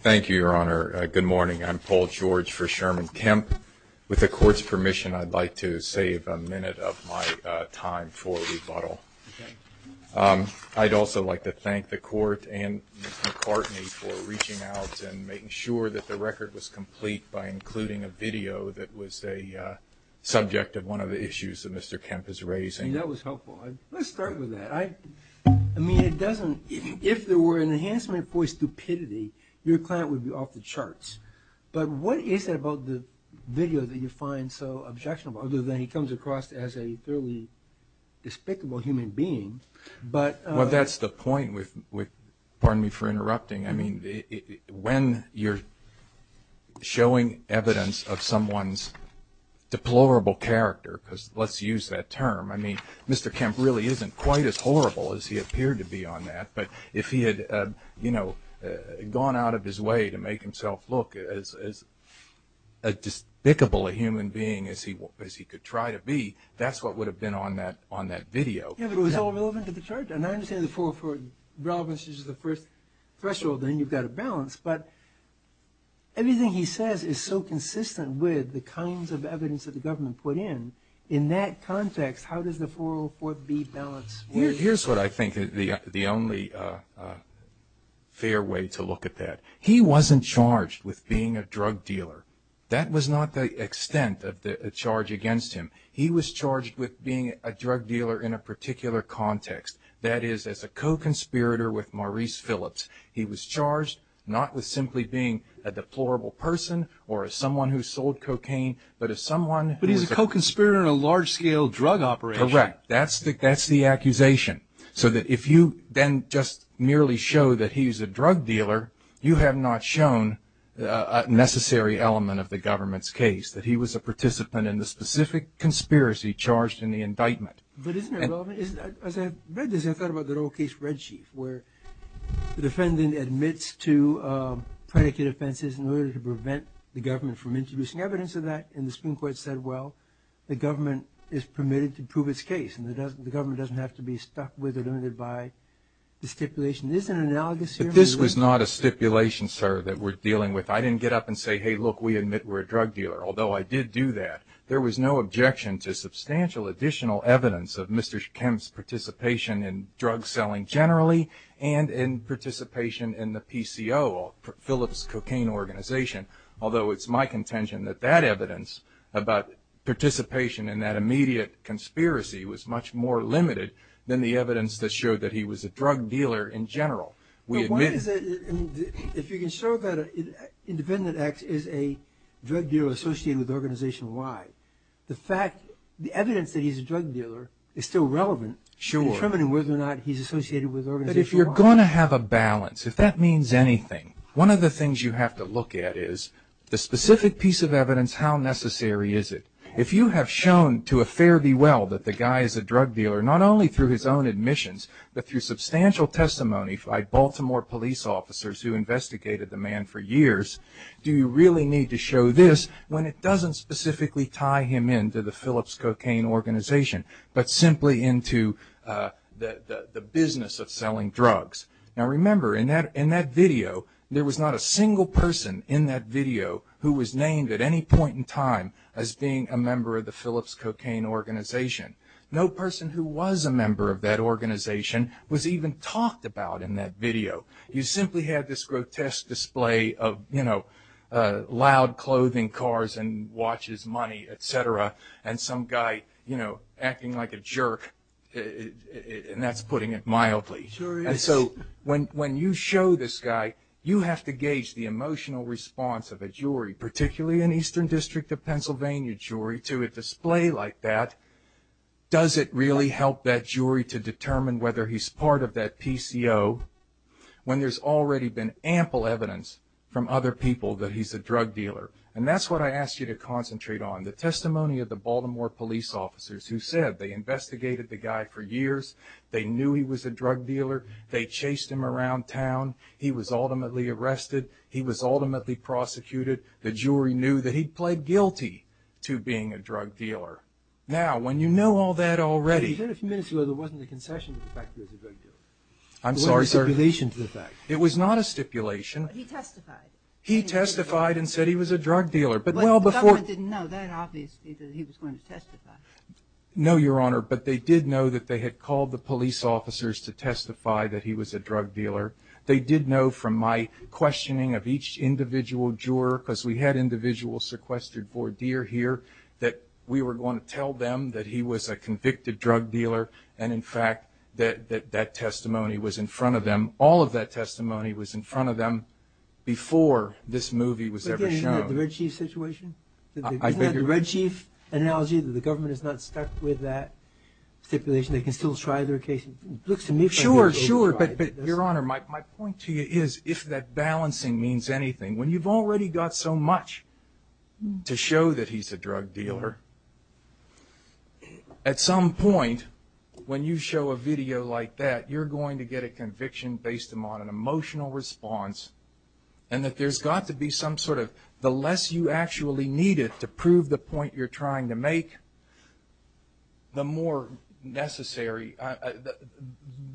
Thank you, Your Honor. Good morning. I'm Paul George for Sherman Kemp. With the Court's permission, I'd like to save a minute of my time for rebuttal. I'd also like to thank the Court and Ms. McCartney for reaching out and making sure that the record was complete by including a video that was a subject of one of the issues that Mr. Kemp is raising. That was helpful. Let's start with that. I mean, it doesn't, if there were an enhancement for stupidity, your client would be off the charts. But what is it about the video that you find so objectionable, other than he comes across as a fairly despicable human being, but- Well, that's the point with, pardon me for interrupting. I mean, when you're showing evidence of someone's deplorable character, because let's use that term, I mean, Mr. Kemp really isn't quite as horrible as he appeared to be on that. But if he had, you know, gone out of his way to make himself look as despicable a human being as he could try to be, that's what would have been on that video. Yeah, but it was all relevant to the charge. And I understand the 404 relevance is the first threshold, then you've got a balance. But everything he says is so consistent with the kinds of evidence that the government put in. In that context, how does the 404B balance? Here's what I think is the only fair way to look at that. He wasn't charged with being a drug dealer. That was not the extent of the charge against him. He was charged with being a drug dealer in a particular context. That is, as a co-conspirator with Maurice Phillips. He was charged not with simply being a deplorable person or someone who sold cocaine, but as someone who- But he's a co-conspirator in a large-scale drug operation. Correct. That's the accusation. So that if you then just merely show that he's a drug dealer, you have not shown a necessary element of the government's case, that he was a participant in the specific conspiracy charged in the indictment. But isn't it relevant? As I read this, I thought about that old case, Red Chief, where the defendant admits to predicate offenses in order to prevent the government from introducing evidence of that. And the Supreme Court said, well, the government is permitted to prove its case, and the government doesn't have to be stuck with or limited by the stipulation. Isn't it analogous here? But this was not a stipulation, sir, that we're dealing with. I didn't get up and There was no objection to substantial additional evidence of Mr. Kemp's participation in drug selling generally and in participation in the PCO, Phillips Cocaine Organization, although it's my contention that that evidence about participation in that immediate conspiracy was much more limited than the evidence that showed that he was a drug dealer in general. We admit- And if you can show that Independent X is a drug dealer associated with Organization Y, the fact- the evidence that he's a drug dealer is still relevant- Sure. In determining whether or not he's associated with Organization Y. But if you're going to have a balance, if that means anything, one of the things you have to look at is the specific piece of evidence, how necessary is it? If you have shown to a fair be well that the guy is a drug dealer, not only through his own admissions, but through investigators who investigated the man for years, do you really need to show this when it doesn't specifically tie him in to the Phillips Cocaine Organization, but simply into the business of selling drugs? Now remember, in that video, there was not a single person in that video who was named at any point in time as being a member of the Phillips Cocaine Organization. No person who was a member of that organization was even talked about in that video. You simply had this grotesque display of, you know, loud clothing, cars, and watches, money, et cetera, and some guy, you know, acting like a jerk, and that's putting it mildly. Sure is. And so when you show this guy, you have to gauge the emotional response of a jury, particularly an Eastern District of Pennsylvania jury, to a display like that. Does it really help that jury to determine whether he's part of that PCO when there's already been ample evidence from other people that he's a drug dealer? And that's what I ask you to concentrate on. The testimony of the Baltimore police officers who said they investigated the guy for years, they knew he was a drug dealer, they chased him around town, he was ultimately arrested, he was ultimately prosecuted, the jury knew that he pled guilty to being a drug dealer. Now, when you know all that already... You said a few minutes ago there wasn't a concession to the fact that he was a drug dealer. I'm sorry, sir. There wasn't a stipulation to the fact. It was not a stipulation. But he testified. He testified and said he was a drug dealer, but well before... But the government didn't know that, obviously, that he was going to testify. No, Your Honor, but they did know that they had called the police officers to testify that he was a drug dealer. They did know from my questioning of each individual juror, because we had individuals sequestered for a year here, that we were going to tell them that he was a convicted drug dealer and, in fact, that that testimony was in front of them. All of that testimony was in front of them before this movie was ever shown. But then isn't that the Red Chief situation? I figured... Isn't that the Red Chief analogy, that the government is not stuck with that stipulation? They can still try their case. Sure, sure. But, Your Honor, my point to you is, if that balancing means anything, when you've already got so much to show that he's a drug dealer, at some point, when you show a video like that, you're going to get a conviction based on an emotional response and that there's got to be some sort of, the less you actually need it to prove the point you're trying to the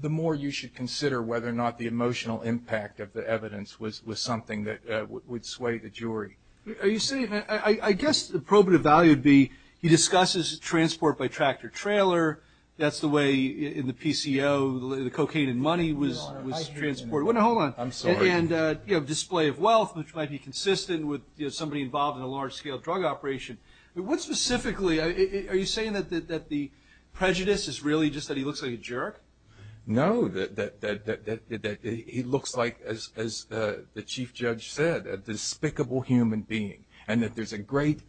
more you should consider whether or not the emotional impact of the evidence was something that would sway the jury. Are you saying that, I guess the probative value would be, he discusses transport by tractor-trailer, that's the way in the PCO, the cocaine and money was transported. Your Honor, I hear you. Hold on. I'm sorry. And display of wealth, which might be consistent with somebody involved in a large-scale drug operation. But what specifically, are you saying that the prejudice is really just that he looks like a jerk? No, that he looks like, as the Chief Judge said, a despicable human being and that there's a great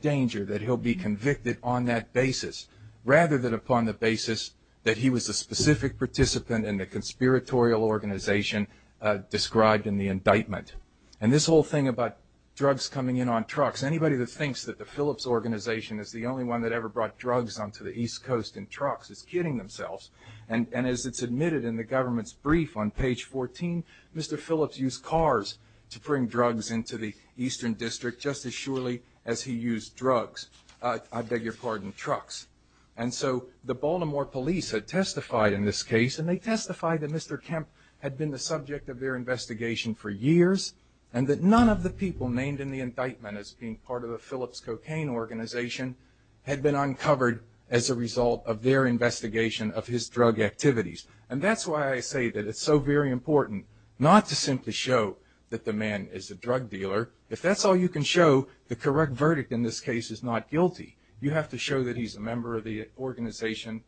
danger that he'll be convicted on that basis rather than upon the basis that he was a specific participant in the conspiratorial organization described in the indictment. And this whole thing about drugs coming in on trucks, anybody that thinks that the Phillips Organization is the only one that ever brought drugs onto the East Coast in trucks is kidding themselves. And as it's admitted in the government's brief on page 14, Mr. Phillips used cars to bring drugs into the Eastern District, just as surely as he used drugs, I beg your pardon, trucks. And so the Baltimore police had testified in this case and they testified that Mr. Kemp had been the subject of their investigation for years and that none of the people named in the indictment as being part of the Phillips Cocaine Organization had been uncovered as a result of their investigation of his drug activities. And that's why I say that it's so very important not to simply show that the man is a drug dealer. If that's all you can show, the correct verdict in this case is not guilty. You have to show that he's a member of the organization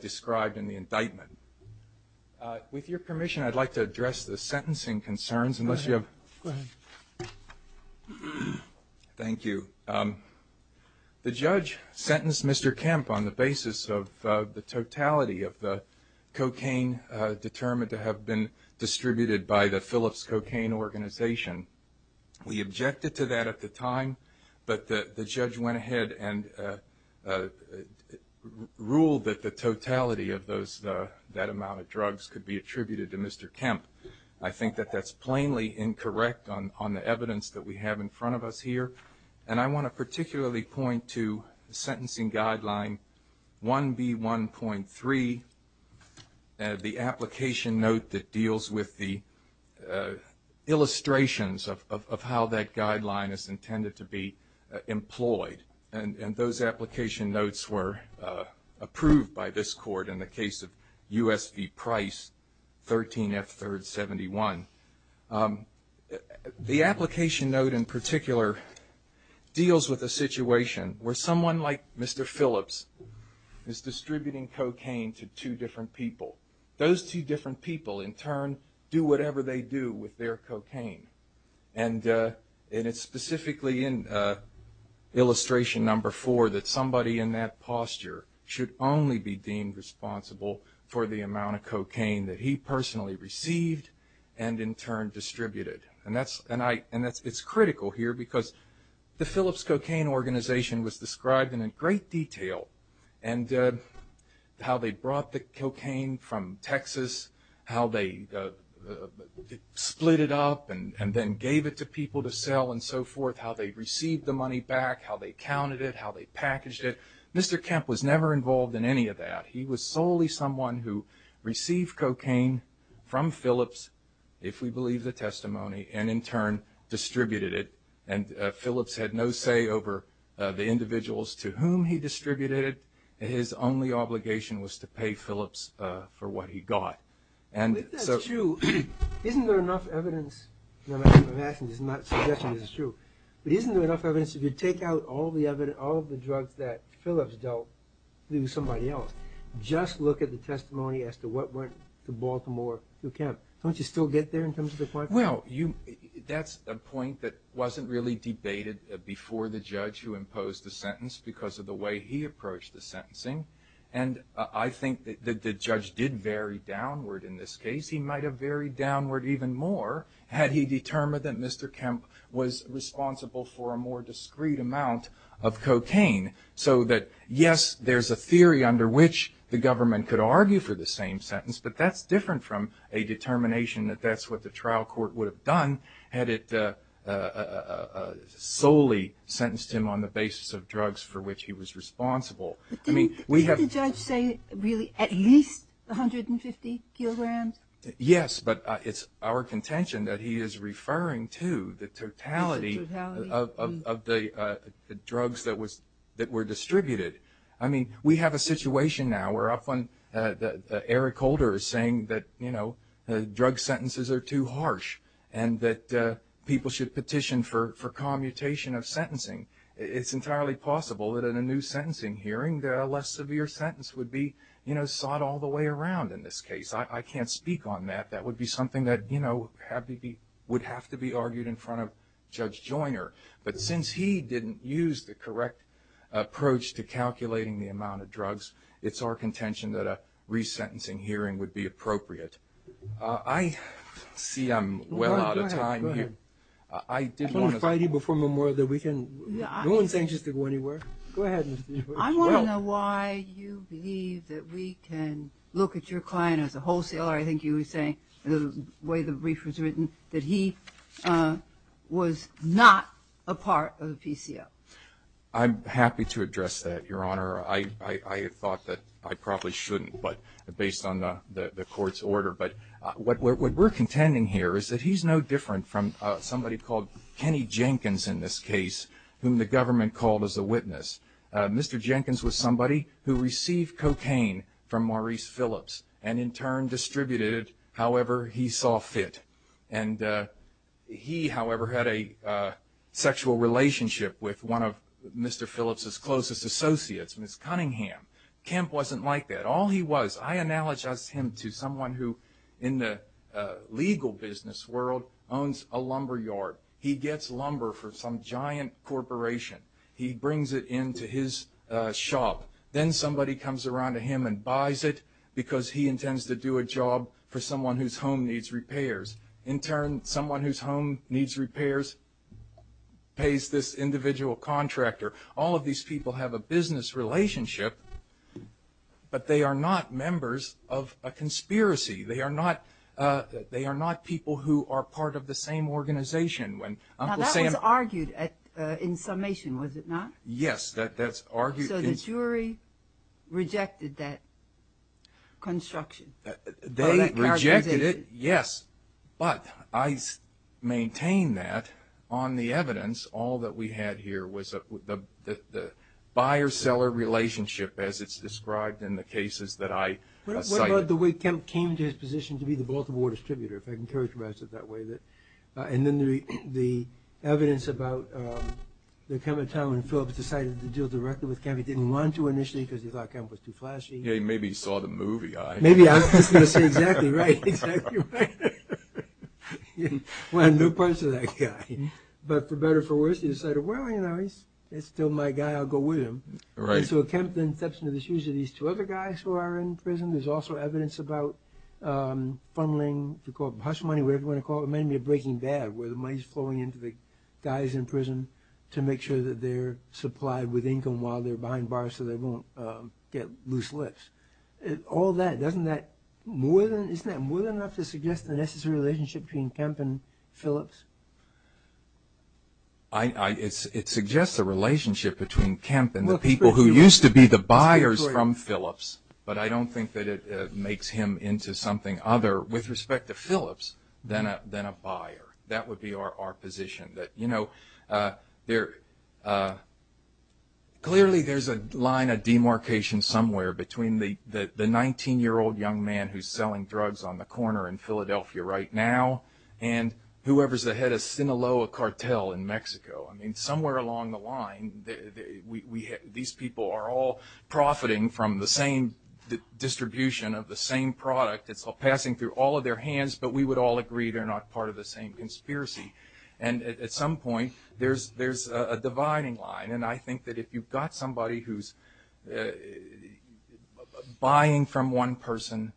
described in the indictment. With your permission, I'd like to address the sentencing concerns, unless you have... Go ahead. Thank you. The judge sentenced Mr. Kemp on the basis of the totality of the cocaine determined to have been distributed by the Phillips Cocaine Organization. We objected to that at the time, but the judge went ahead and ruled that the totality of that amount of drugs could be attributed to Mr. Kemp. I think that that's plainly incorrect on the evidence that we have in front of us here. And I want to particularly point to sentencing guideline 1B1.3, the application note that deals with the illustrations of how that guideline is intended to be employed. And those application notes were approved by this court in the case of USP Price 13F3-71. The application note in particular deals with a situation where someone like Mr. Phillips is distributing cocaine to two different people. Those two different people, in turn, do whatever they do with their cocaine. And it's specifically in illustration number four that somebody in that posture should only be deemed responsible for the amount of cocaine that he personally received and in turn distributed. And it's critical here because the Phillips Cocaine Organization was described in great detail in how they brought the cocaine from Texas, how they split it up and then gave it to people to sell and so forth, how they received the money back, how they counted it, how they packaged it. Mr. Kemp was never involved in any of that. He was solely someone who received cocaine from Phillips, if we believe the testimony, and in turn distributed it. And Phillips had no say over the individuals to whom he distributed it. His only obligation was to pay Phillips for what he got. And so- But that's true. Isn't there enough evidence? No, I'm asking, this is not suggesting this is true, but isn't there enough evidence to take out all the evidence, all of the drugs that Phillips dealt with somebody else, just look at the testimony as to what went to Baltimore to Kemp, don't you still get there in terms of the point? Well, that's a point that wasn't really debated before the judge who imposed the sentence because of the way he approached the sentencing. And I think that the judge did vary downward in this case. He might have varied downward even more had he determined that Mr. Kemp was responsible for a more discreet amount of cocaine. So that, yes, there's a theory under which the government could argue for the same sentence, but that's different from a determination that that's what the trial court would have done had it solely sentenced him on the basis of drugs for which he was responsible. Didn't the judge say, really, at least 150 kilograms? Yes, but it's our contention that he is referring to the totality of the drugs that were distributed. I mean, we have a situation now where Eric Holder is saying that drug sentences are too harsh and that people should petition for commutation of sentencing. It's entirely possible that in a new sentencing hearing that a less severe sentence would be sought all the way around in this case. I can't speak on that. That would be something that, you know, would have to be argued in front of Judge Joyner. But since he didn't use the correct approach to calculating the amount of drugs, it's our contention that a re-sentencing hearing would be appropriate. I see I'm well out of time here. I did want to... I want to invite you before Memorial Day weekend. No one's anxious to go anywhere. Go ahead, Mr. Evers. I want to know why you believe that we can look at your client as a wholesaler, I think you were saying, the way the brief was written, that he was not a part of the PCO. I'm happy to address that, Your Honor. I thought that I probably shouldn't, but based on the court's order. But what we're contending here is that he's no different from somebody called Kenny Jenkins in this case, whom the government called as a witness. Mr. Jenkins was somebody who received cocaine from Maurice Phillips, and in turn distributed however he saw fit. And he, however, had a sexual relationship with one of Mr. Phillips' closest associates, Miss Cunningham. Kemp wasn't like that. All he was... I analogize him to someone who, in the legal business world, owns a lumberyard. He gets lumber for some giant corporation. He brings it into his shop. Then somebody comes around to him and buys it because he intends to do a job for someone whose home needs repairs. In turn, someone whose home needs repairs pays this individual contractor. All of these people have a business relationship, but they are not members of a conspiracy. They are not people who are part of the same organization. Now, that was argued in summation, was it not? Yes, that's argued. So the jury rejected that construction, or that characterization? They rejected it, yes. But I maintain that on the evidence, all that we had here was the buyer-seller relationship, as it's described in the cases that I cited. What about the way Kemp came to his position to be the Baltimore distributor, if I can characterize it that way? And then the evidence about the time when Phillips decided to deal directly with Kemp. He didn't want to initially because he thought Kemp was too flashy. Yeah, he maybe saw the movie, I... Maybe, I was just going to say, exactly right, exactly right. One of the new parts of that guy. But for better or for worse, he decided, well, you know, he's still my guy, I'll go with him. And so Kemp then steps into the shoes of these two other guys who are in prison. There's also evidence about fumbling, if you call it hush money, whatever you want to call it, maybe a breaking bad where the money's flowing into the guys in prison to make sure that they're supplied with income while they're behind bars so they won't get loose lips. All that, doesn't that more than, isn't that more than enough to suggest the necessary relationship between Kemp and Phillips? It suggests a relationship between Kemp and the people who used to be the buyers from Phillips, but I don't think that it makes him into something other with respect to Phillips than a buyer. That would be our position, that, you know, clearly there's a line of demarcation somewhere between the 19-year-old young man who's selling drugs on the corner in Philadelphia right now and whoever's the head of Sinaloa cartel in Mexico. I mean, somewhere along the line, these people are all profiting from the same distribution of the same product. It's all passing through all of their hands, but we would all agree they're not part of the same conspiracy. And at some point, there's a dividing line. And I think that if you've got somebody who's buying from one person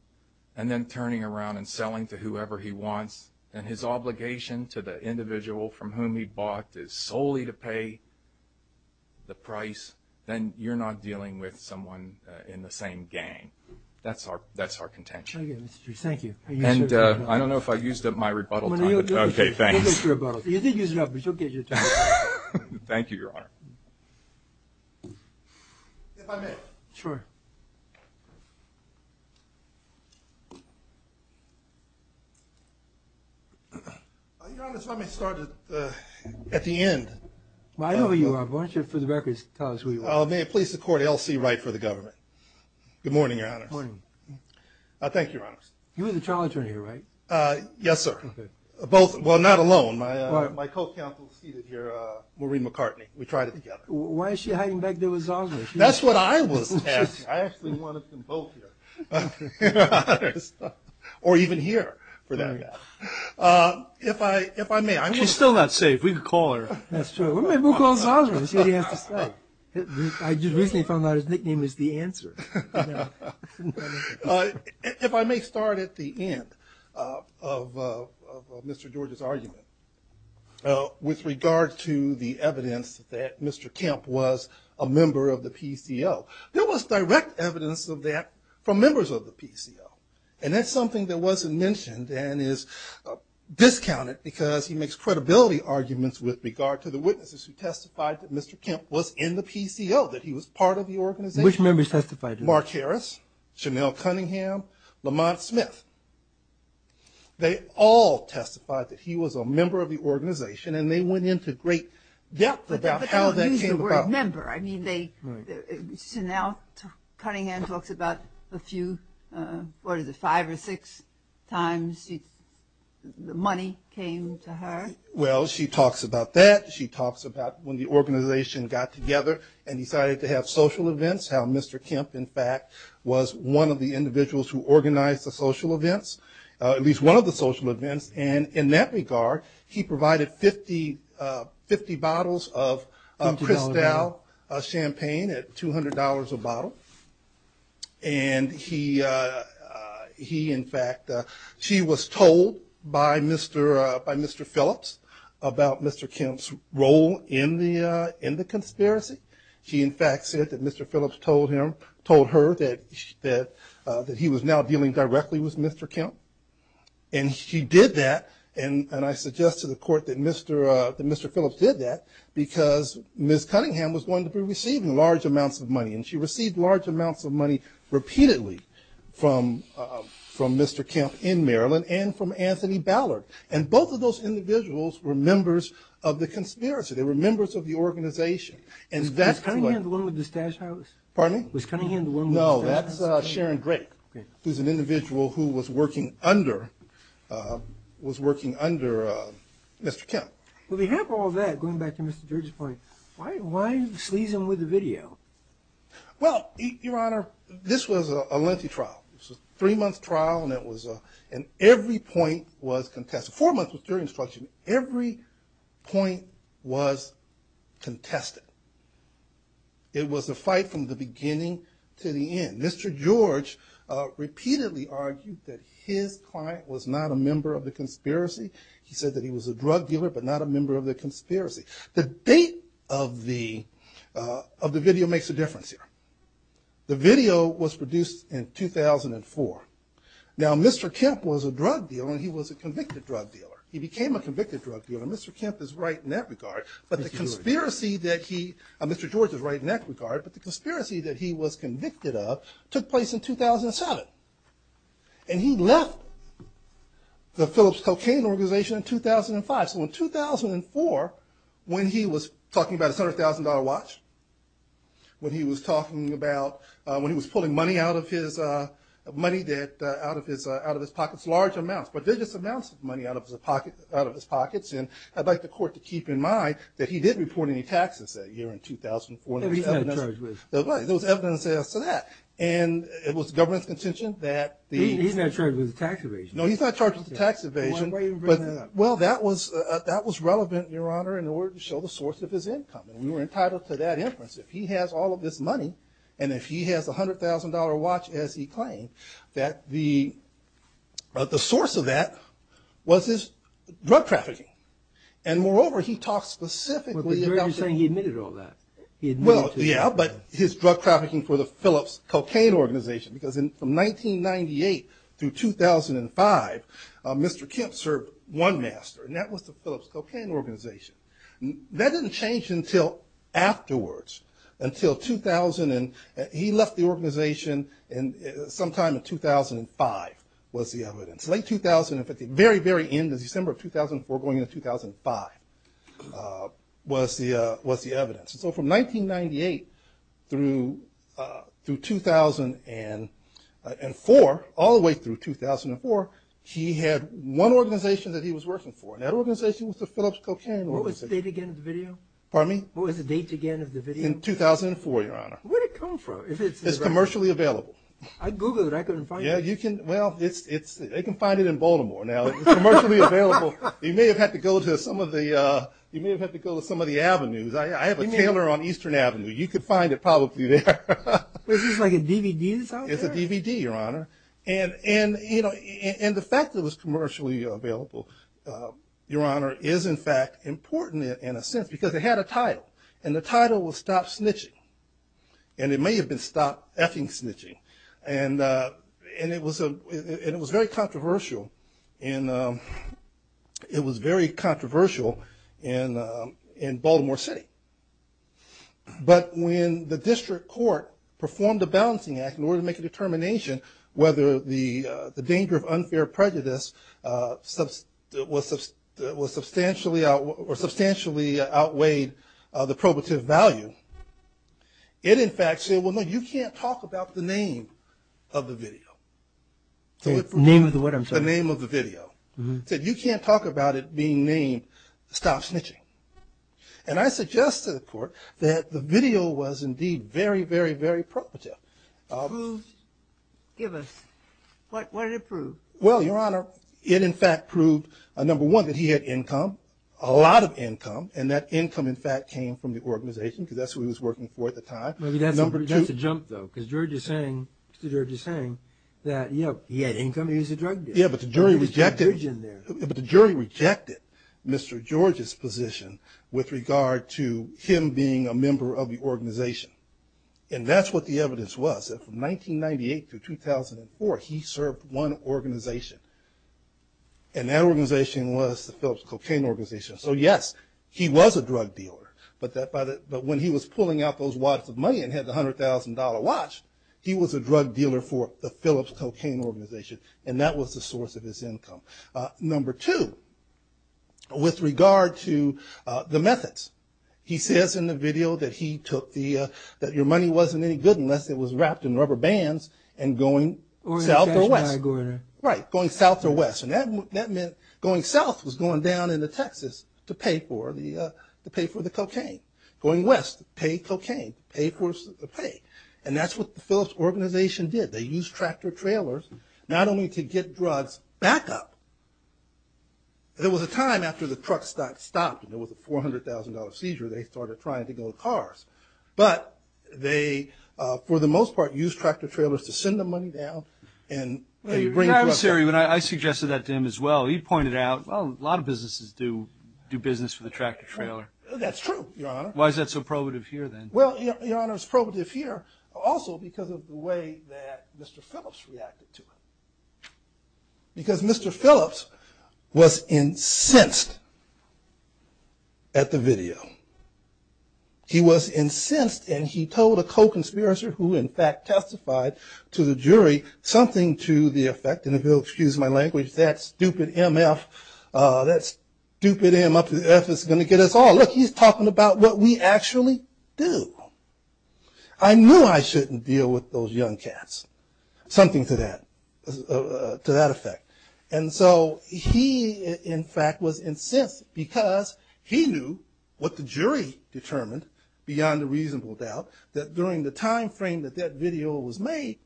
and then turning around and selling to whoever he wants and his obligation to the individual from whom he bought is solely to pay the price, then you're not dealing with someone in the same gang. That's our contention. Thank you. And I don't know if I used up my rebuttal time. Okay, thanks. You didn't use it up, but you'll get your turn. Thank you, Your Honor. If I may. Sure. Your Honor, if I may start at the end. Why don't you, for the record, tell us who you are. May it please the court, L.C. Wright for the government. Good morning, Your Honor. Good morning. Thank you, Your Honor. You're the trial attorney here, right? Yes, sir. Both. Well, not alone. My co-counsel is seated here, Maureen McCartney. We tried it together. Why is she hiding back there with Zosima? That's what I was asking. I actually wanted them both here, Your Honor, or even here for that matter. If I may. She's still not safe. We could call her. That's true. Maybe we'll call Zosima and see what he has to say. I just recently found out his nickname is The Answer. If I may start at the end of Mr. George's argument with regard to the evidence that Mr. Kemp was a member of the PCO. There was direct evidence of that from members of the PCO. And that's something that wasn't mentioned and is discounted because he makes credibility arguments with regard to the witnesses who testified that Mr. Kemp was in the PCO, that he was part of the organization. Which members testified? Mark Harris, Chanel Cunningham, Lamont Smith. They all testified that he was a member of the organization and they went into great depth about how that came about. I don't use the word member. I mean, Chanel Cunningham talks about a few, what is it, five or six times the money came to her. Well, she talks about that. She talks about when the organization got together and decided to have social events, how Mr. Kemp, in fact, was one of the individuals who organized the social events. At least one of the social events. And in that regard, he provided 50 bottles of Cristal champagne at $200 a bottle. And he, in fact, she was told by Mr. Phillips about Mr. Kemp's role in the conspiracy. She, in fact, said that Mr. Phillips told her that he was now dealing directly with Mr. Kemp. And she did that. And I suggest to the court that Mr. Phillips did that because Ms. Cunningham was going to be receiving large amounts of money. And she received large amounts of money repeatedly from Mr. Kemp in Maryland and from Anthony Ballard. And both of those individuals were members of the conspiracy. They were members of the organization. Was Cunningham the one with the stash house? Was Cunningham the one with the stash house? No, that's Sharon Drake, who's an individual who was working under Mr. Kemp. On behalf of all that, going back to Mr. George's point, why are you sleazing with the video? Well, Your Honor, this was a lengthy trial. It was a three-month trial. And every point was contested. Four months was jury instruction. Every point was contested. It was a fight from the beginning to the end. Mr. George repeatedly argued that his client was not a member of the conspiracy. He said that he was a drug dealer, but not a member of the conspiracy. The date of the video makes a difference here. The video was produced in 2004. Now, Mr. Kemp was a drug dealer, and he was a convicted drug dealer. He became a convicted drug dealer. Mr. Kemp is right in that regard. But the conspiracy that he, Mr. George is right in that regard. But the conspiracy that he was convicted of took place in 2007. And he left the Phillips cocaine organization in 2005. So in 2004, when he was talking about his $100,000 watch, when he was talking about, when he was pulling money out of his pockets, large amounts, prodigious amounts of money out of his pockets. And I'd like the Court to keep in mind that he didn't report any taxes that year in 2004. There was evidence as to that. And it was the government's contention that the... He's not charged with a tax evasion. No, he's not charged with a tax evasion. Well, that was relevant, Your Honor, in order to show the source of his income. And we were entitled to that inference. If he has all of this money, and if he has a $100,000 watch, as he claimed, that the source of that was his drug trafficking. And moreover, he talked specifically about... But George is saying he admitted all that. Well, yeah, but his drug trafficking for the Phillips cocaine organization. Because from 1998 through 2005, Mr. Kemp served one master. And that was the Phillips cocaine organization. That didn't change until afterwards. Until 2000, and he left the organization sometime in 2005, was the evidence. Late 2000, very, very end of December of 2004 going into 2005, was the evidence. So from 1998 through 2004, all the way through 2004, he had one organization that he was working for. And that organization was the Phillips cocaine organization. What was the date again of the video? Pardon me? What was the date again of the video? In 2004, Your Honor. Where did it come from? It's commercially available. I Googled it. I couldn't find it. Well, they can find it in Baltimore now. It's commercially available. You may have had to go to some of the avenues. I have a tailor on Eastern Avenue. You could find it probably there. Is this like a DVD that's out there? It's a DVD, Your Honor. And the fact that it was commercially available, Your Honor, is in fact important in a sense because it had a title. And the title was Stop Snitching. And it may have been Stop F-ing Snitching. And it was very controversial. And it was very controversial in Baltimore City. But when the district court performed a balancing act in order to make a determination whether the danger of unfair prejudice was substantially outweighed the probative value, it in fact said, well, no, you can't talk about the name of the video. Name of the what, I'm sorry? The name of the video. It said, you can't talk about it being named Stop Snitching. And I suggest to the court that the video was indeed very, very, very probative. Prove? Give us. What did it prove? Well, Your Honor, it in fact proved, number one, that he had income, a lot of income. And that income in fact came from the organization because that's who he was working for at the time. Maybe that's a jump though because George is saying, Mr. George is saying that he had income and he was a drug dealer. Yeah, but the jury rejected Mr. George's position with regard to him being a member of the organization. And that's what the evidence was. From 1998 to 2004, he served one organization. And that organization was the Phillips Cocaine Organization. So yes, he was a drug dealer. But when he was pulling out those wads of money and had the $100,000 watch, he was a drug dealer for the Phillips Cocaine Organization. And that was the source of his income. Number two, with regard to the methods, he says in the video that he took the, that your money wasn't any good unless it was wrapped in rubber bands and going south or west. Right, going south or west. And that meant going south was going down into Texas to pay for the cocaine. Going west, pay cocaine, pay for the pay. And that's what the Phillips Organization did. They used tractor-trailers not only to get drugs back up. There was a time after the trucks stopped and there was a $400,000 seizure, they started trying to go to cars. But they, for the most part, used tractor-trailers to send the money down. And they bring drugs up. I suggested that to him as well. He pointed out, well, a lot of businesses do business with a tractor-trailer. That's true, Your Honor. Why is that so probative here then? Well, Your Honor, it's probative here also because of the way that Mr. Phillips reacted to it. Because Mr. Phillips was incensed at the video. He was incensed and he told a co-conspirator, who in fact testified to the jury, something to the effect, and if you'll excuse my language, that stupid MF, that stupid MF is going to get us all. Look, he's talking about what we actually do. I knew I shouldn't deal with those young cats. Something to that effect. And so he, in fact, was incensed because he knew what the jury determined, beyond a reasonable doubt, that during the time frame that that video was made,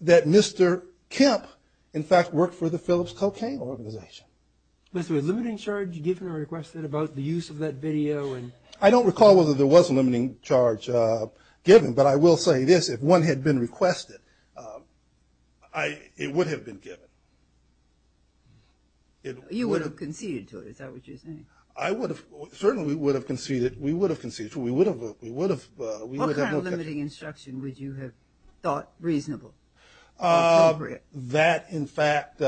that Mr. Kemp, in fact, worked for the Phillips cocaine organization. Was there a limiting charge given or requested about the use of that video? I don't recall whether there was a limiting charge given, but I will say this, if one had been requested, it would have been given. You would have conceded to it, is that what you're saying? Certainly we would have conceded to it. What kind of limiting instruction would you have thought reasonable or appropriate? That, in fact,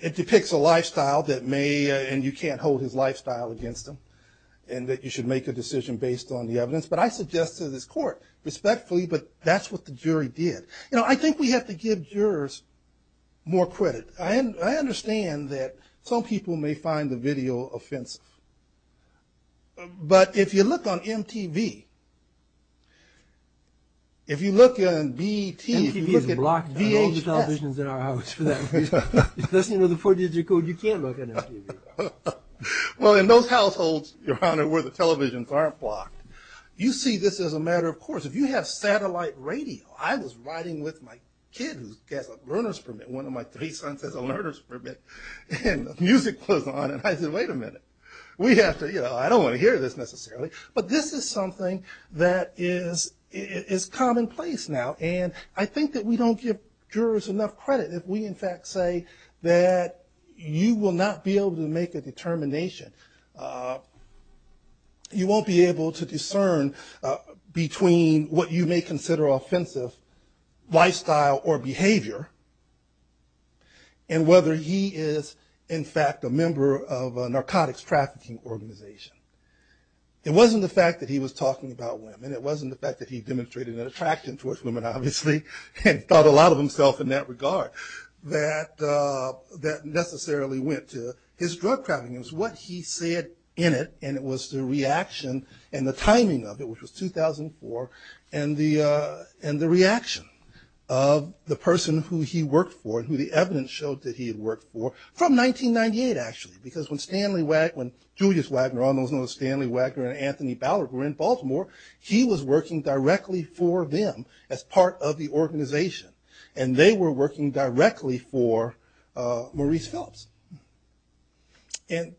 it depicts a lifestyle that may, and you can't hold his lifestyle against him, and that you should make a decision based on the evidence. But I suggested to this court, respectfully, but that's what the jury did. You know, I think we have to give jurors more credit. I understand that some people may find the video offensive. But if you look on MTV, if you look on VHS. MTV is blocked on all the televisions in our house for that reason. Unless you know the four-digit code, you can't look on MTV. Well, in those households, Your Honor, where the televisions aren't blocked, you see this as a matter of course. If you have satellite radio, I was riding with my kid who has a learner's permit, one of my three sons has a learner's permit, and the music was on, and I said, wait a minute. We have to, you know, I don't want to hear this necessarily. But this is something that is commonplace now, and I think that we don't give jurors enough credit if we, in fact, say that you will not be able to make a determination. You won't be able to discern between what you may consider offensive lifestyle or behavior and whether he is, in fact, a member of a narcotics trafficking organization. It wasn't the fact that he was talking about women. It wasn't the fact that he demonstrated an attraction towards women, obviously, and thought a lot of himself in that regard that necessarily went to his drug trafficking. It was what he said in it, and it was the reaction and the timing of it, which was 2004, and the reaction of the person who he worked for and who the evidence showed that he had worked for from 1998, actually, because when Stanley Wagner, when Julius Wagner, all those know Stanley Wagner and Anthony Ballard were in Baltimore, he was working directly for them as part of the organization, and they were working directly for Maurice Phillips. And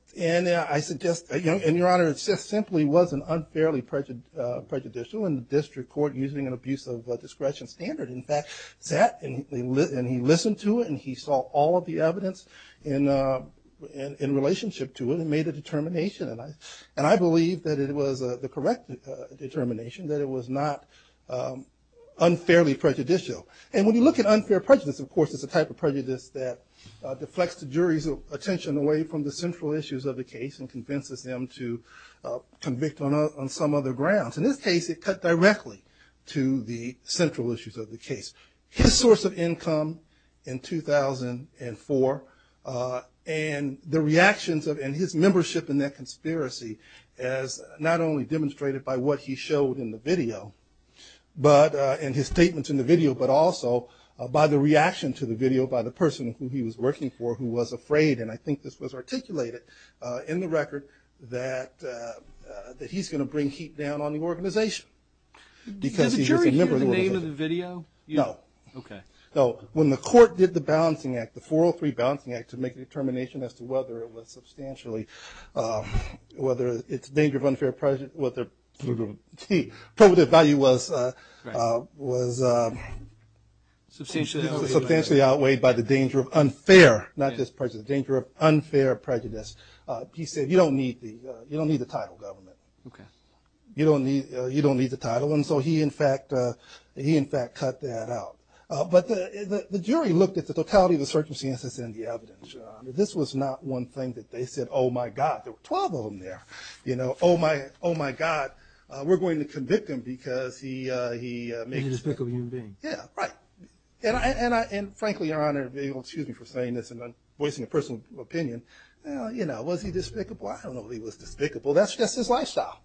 I suggest, and, Your Honor, it simply wasn't unfairly prejudicial, and the district court, using an abuse of discretion standard, in fact, sat and he listened to it and he saw all of the evidence in relationship to it and made a determination, and I believe that it was the correct determination that it was not unfairly prejudicial. And when you look at unfair prejudice, of course, it's a type of prejudice that deflects the jury's attention away from the central issues of the case and convinces them to convict on some other grounds. In this case, it cut directly to the central issues of the case. His source of income in 2004 and the reactions of, and his membership in that conspiracy as not only demonstrated by what he showed in the video, and his statements in the video, but also by the reaction to the video by the person who he was working for who was afraid, and I think this was articulated in the record, that he's going to bring heat down on the organization because he was a member of the organization. Did the jury hear the name of the video? No. Okay. No. When the court did the balancing act, the 403 balancing act, to make a determination as to whether it was substantially, whether it's danger of unfair prejudice, whether the probative value was substantially outweighed by the danger of unfair, not just prejudice, the danger of unfair prejudice, he said, you don't need the title, government. Okay. You don't need the title. And so he, in fact, cut that out. But the jury looked at the totality of the circumstances in the evidence. This was not one thing that they said, oh, my God, there were 12 of them there. You know, oh, my God, we're going to convict him because he made a mistake. He was a despicable human being. Yeah, right. And, frankly, Your Honor, excuse me for saying this and voicing a personal opinion, you know, was he despicable? I don't know if he was despicable. That's just his lifestyle,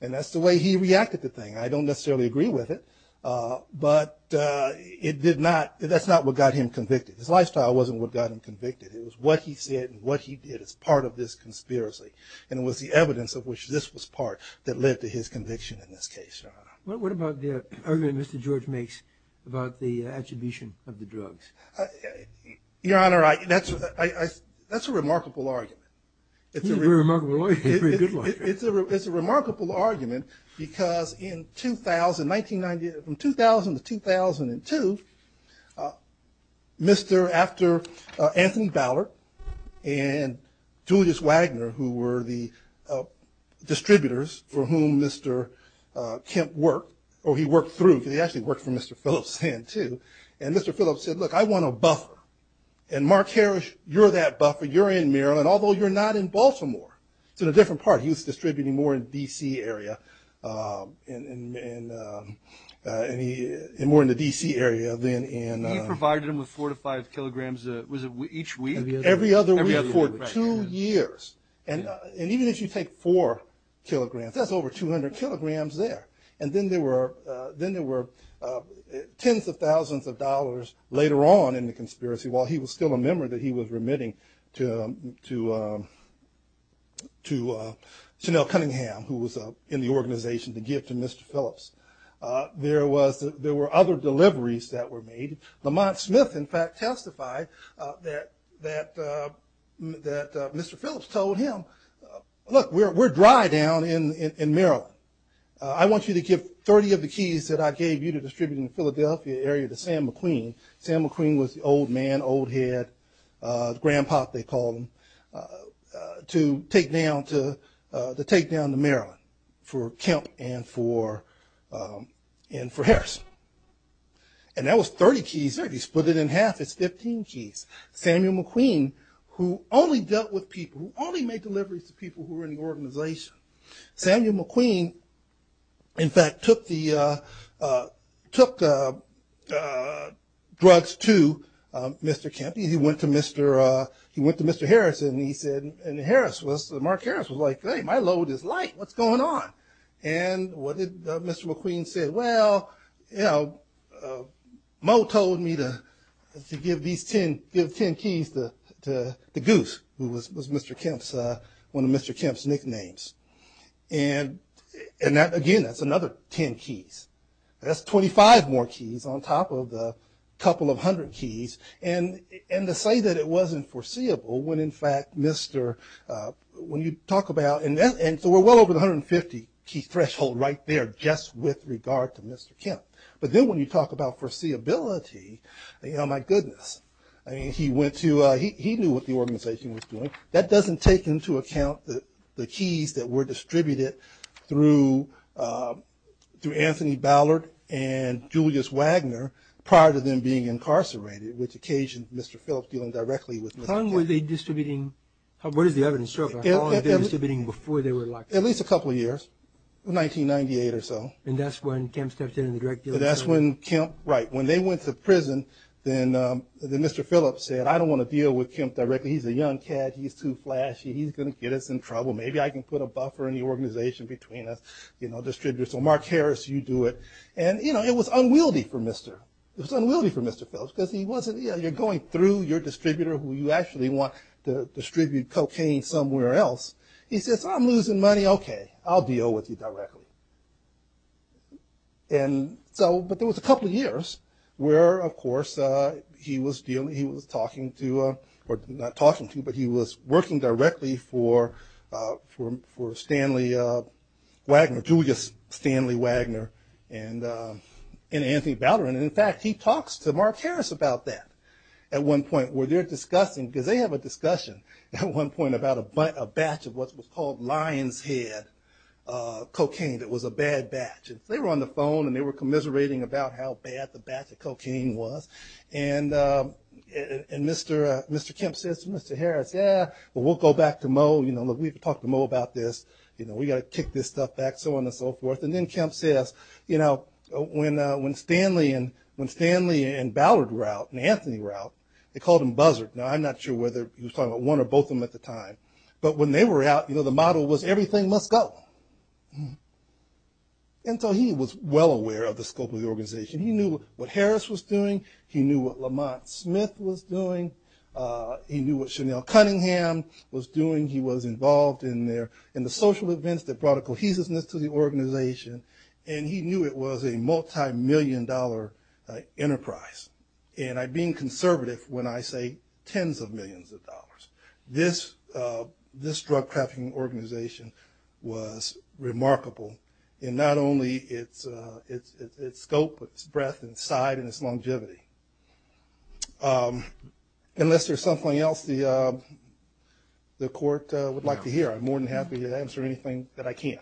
and that's the way he reacted to things. I don't necessarily agree with it, but it did not, that's not what got him convicted. His lifestyle wasn't what got him convicted. It was what he said and what he did as part of this conspiracy, and it was the evidence of which this was part that led to his conviction in this case, Your Honor. What about the argument Mr. George makes about the attribution of the drugs? Your Honor, that's a remarkable argument. He's a remarkable lawyer. It's a remarkable argument because in 2000, 1990, from 2000 to 2002, Mr. After Anthony Ballard and Julius Wagner, who were the distributors for whom Mr. Kemp worked, or he worked through, because he actually worked for Mr. Phillips then, too, and Mr. Phillips said, look, I want a buffer. And Mark Harris, you're that buffer. It's in a different part. He was distributing more in the D.C. area and more in the D.C. area. He provided them with four to five kilograms, was it each week? Every other week for two years, and even if you take four kilograms, that's over 200 kilograms there. And then there were tens of thousands of dollars later on in the conspiracy, while he was still a member, that he was remitting to Chanel Cunningham, who was in the organization, to give to Mr. Phillips. There were other deliveries that were made. Lamont Smith, in fact, testified that Mr. Phillips told him, look, we're dry down in Maryland. I want you to give 30 of the keys that I gave you to distribute in the Philadelphia area to Sam McQueen. Sam McQueen was the old man, old head, the grand pop, they called him, to take down the Maryland for Kemp and for Harris. And that was 30 keys. He split it in half. It's 15 keys. Samuel McQueen, who only dealt with people, who only made deliveries to people who were in the organization, Samuel McQueen, in fact, took drugs to Mr. Kemp. He went to Mr. Harris, and he said, and Harris was, Mark Harris was like, hey, my load is light. What's going on? And Mr. McQueen said, well, you know, Moe told me to give these 10 keys to Goose, who was Mr. Kemp's, one of Mr. Kemp's nicknames. And that, again, that's another 10 keys. That's 25 more keys on top of the couple of hundred keys. And to say that it wasn't foreseeable when, in fact, Mr., when you talk about, and so we're well over the 150-key threshold right there just with regard to Mr. Kemp. But then when you talk about foreseeability, oh, my goodness. I mean, he went to, he knew what the organization was doing. That doesn't take into account the keys that were distributed through Anthony Ballard and Julius Wagner prior to them being incarcerated, which occasioned Mr. Phillips dealing directly with Mr. Kemp. How long were they distributing? What is the evidence? How long were they distributing before they were locked up? At least a couple of years, 1998 or so. And that's when Kemp stepped in and directly? That's when Kemp, right. When they went to prison, then Mr. Phillips said, I don't want to deal with Kemp directly. He's a young cat. He's too flashy. He's going to get us in trouble. Maybe I can put a buffer in the organization between us, you know, distributors. So Mark Harris, you do it. And, you know, it was unwieldy for Mr. It was unwieldy for Mr. Phillips because he wasn't, you know, you're going through your distributor who you actually want to distribute cocaine somewhere else. He says, I'm losing money. Okay, I'll deal with you directly. And so, but there was a couple of years where, of course, he was dealing, he was talking to, or not talking to, but he was working directly for Stanley Wagner, Julius Stanley Wagner and Anthony Bowderin. And, in fact, he talks to Mark Harris about that at one point, where they're discussing, because they have a discussion at one point about a batch of what was called lion's head cocaine that was a bad batch. And so they were on the phone, and they were commiserating about how bad the batch of cocaine was. And Mr. Kemp says to Mr. Harris, yeah, but we'll go back to Moe. You know, look, we have to talk to Moe about this. You know, we've got to kick this stuff back, so on and so forth. And then Kemp says, you know, when Stanley and Bowderin were out, and Anthony were out, they called him buzzard. Now, I'm not sure whether he was talking about one or both of them at the time. But when they were out, you know, the model was everything must go. And so he was well aware of the scope of the organization. He knew what Harris was doing. He knew what Lamont Smith was doing. He knew what Chanel Cunningham was doing. He was involved in the social events that brought a cohesiveness to the organization. And he knew it was a multimillion-dollar enterprise. And I'm being conservative when I say tens of millions of dollars. This drug trafficking organization was remarkable in not only its scope, its breadth, its size, and its longevity. Unless there's something else the court would like to hear, I'm more than happy to answer anything that I can.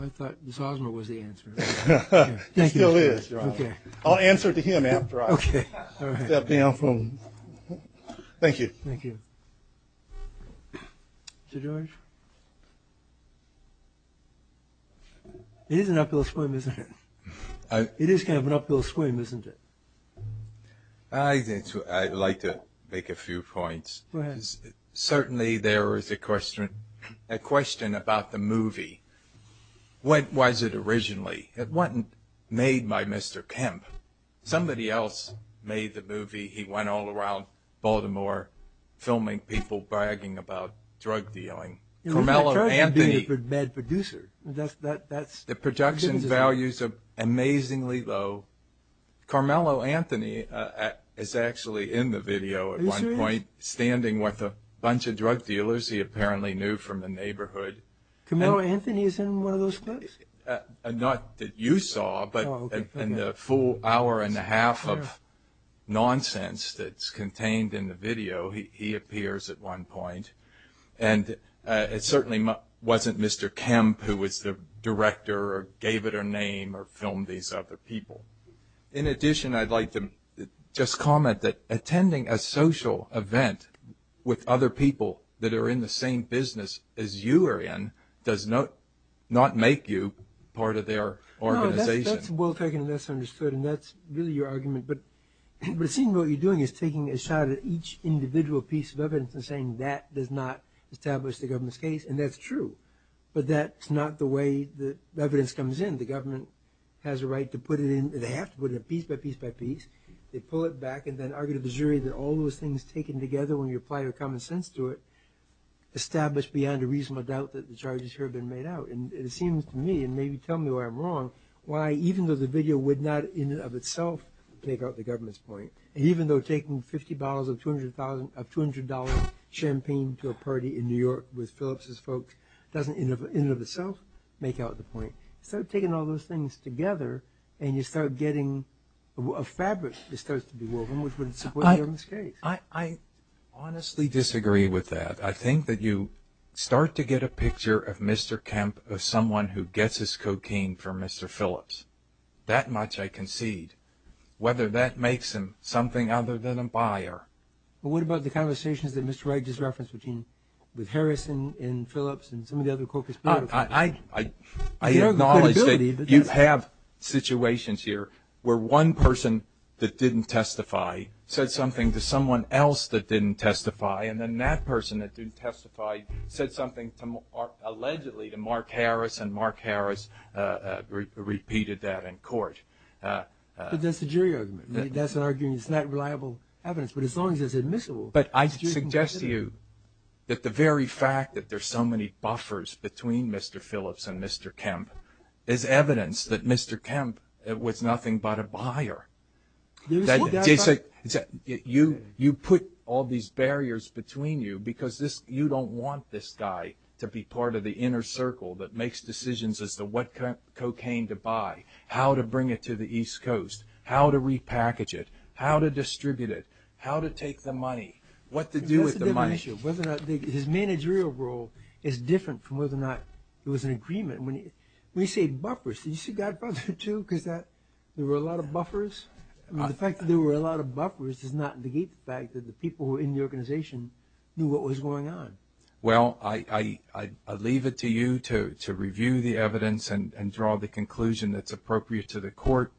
I thought Ms. Osmer was the answer. She still is, Your Honor. I'll answer to him after I step down from. Thank you. Thank you. Mr. George? It is an uphill swim, isn't it? It is kind of an uphill swim, isn't it? I'd like to make a few points. Certainly there is a question about the movie. What was it originally? It wasn't made by Mr. Kemp. Somebody else made the movie. He went all around Baltimore filming people bragging about drug dealing. Carmelo Anthony. The production values are amazingly low. Carmelo Anthony is actually in the video at one point, standing with a bunch of drug dealers he apparently knew from the neighborhood. Carmelo Anthony is in one of those clips? Not that you saw, but in the full hour and a half of nonsense that's contained in the video, he appears at one point. It certainly wasn't Mr. Kemp who was the director or gave it a name or filmed these other people. In addition, I'd like to just comment that attending a social event with other people that are in the same business as you are in does not make you part of their organization. That's well taken and that's understood. That's really your argument. What you're doing is taking a shot at each individual piece of evidence and saying that does not establish the government's case. That's true, but that's not the way the evidence comes in. The government has a right to put it in. They have to put it in piece by piece by piece. They pull it back and then argue to the jury that all those things taken together when you apply your common sense to it establish beyond a reasonable doubt that the charges here have been made out. It seems to me, and maybe tell me why I'm wrong, why even though the video would not in and of itself take out the government's point, even though taking 50 bottles of $200 champagne to a party in New York with Phillips' folks doesn't in and of itself make out the point, instead of taking all those things together and you start getting a fabric that starts to be woven which would support the government's case. I honestly disagree with that. I think that you start to get a picture of Mr. Kemp as someone who gets his cocaine from Mr. Phillips. That much I concede. Whether that makes him something other than a buyer. What about the conversations that Mr. Wright just referenced with Harrison and Phillips and some of the other co-conspirators? I acknowledge that you have situations here where one person that didn't testify said something to someone else that didn't testify and then that person that didn't testify said something allegedly to Mark Harris and Mark Harris repeated that in court. But that's a jury argument. That's an argument. It's not reliable evidence. But as long as it's admissible... But I suggest to you that the very fact that there's so many buffers between Mr. Phillips and Mr. Kemp is evidence that Mr. Kemp was nothing but a buyer. You put all these barriers between you because you don't want this guy to be part of the inner circle that makes decisions as to what cocaine to buy, how to bring it to the East Coast, how to repackage it, how to distribute it, how to take the money, what to do with the money. His managerial role is different from whether or not there was an agreement. When you say buffers, did you see Godbrother 2? Because there were a lot of buffers. The fact that there were a lot of buffers does not negate the fact that the people in the organization knew what was going on. Well, I leave it to you to review the evidence and draw the conclusion that's appropriate to the court.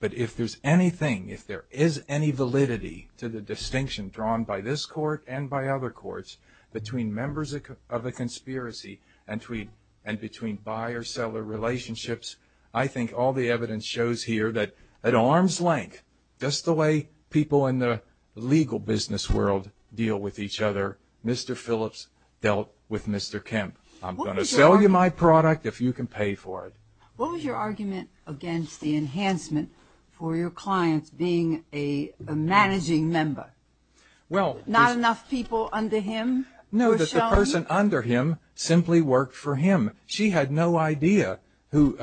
But if there's anything, if there is any validity to the distinction drawn by this court and by other courts between members of a conspiracy and between buyer-seller relationships, I think all the evidence shows here that at arm's length, just the way people in the legal business world deal with each other, Mr. Phillips dealt with Mr. Kemp. I'm going to sell you my product if you can pay for it. What was your argument against the enhancement for your clients being a managing member? Not enough people under him were shown? No, that the person under him simply worked for him. She had no idea who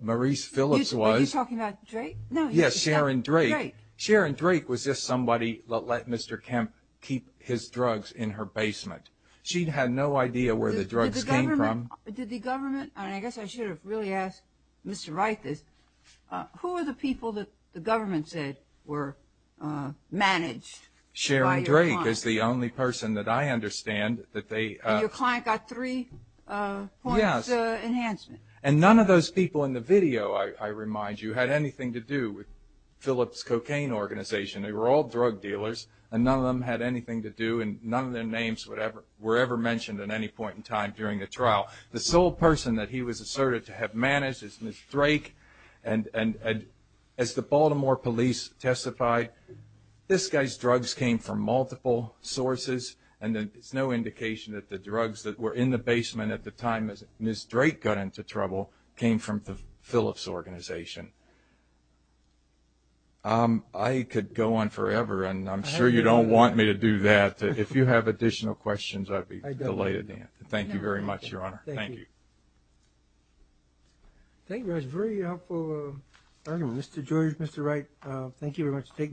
Maurice Phillips was. Are you talking about Drake? Yes, Sharon Drake. Sharon Drake was just somebody that let Mr. Kemp keep his drugs in her basement. She had no idea where the drugs came from. Did the government, and I guess I should have really asked Mr. Reithes, who were the people that the government said were managed by your client? Sharon Drake is the only person that I understand that they... And your client got three points enhancement? Yes, and none of those people in the video, I remind you, had anything to do with Phillips' cocaine organization. They were all drug dealers, and none of them had anything to do, and none of their names were ever mentioned at any point in time during the trial. The sole person that he was asserted to have managed is Ms. Drake, and as the Baltimore police testified, this guy's drugs came from multiple sources, and there's no indication that the drugs that were in the basement at the time as Ms. Drake got into trouble came from the Phillips organization. I could go on forever, and I'm sure you don't want me to do that. If you have additional questions, I'd be delighted. Thank you very much, Your Honor. Thank you. Thank you. That was a very helpful argument. Mr. George, Mr. Reithes, thank you very much.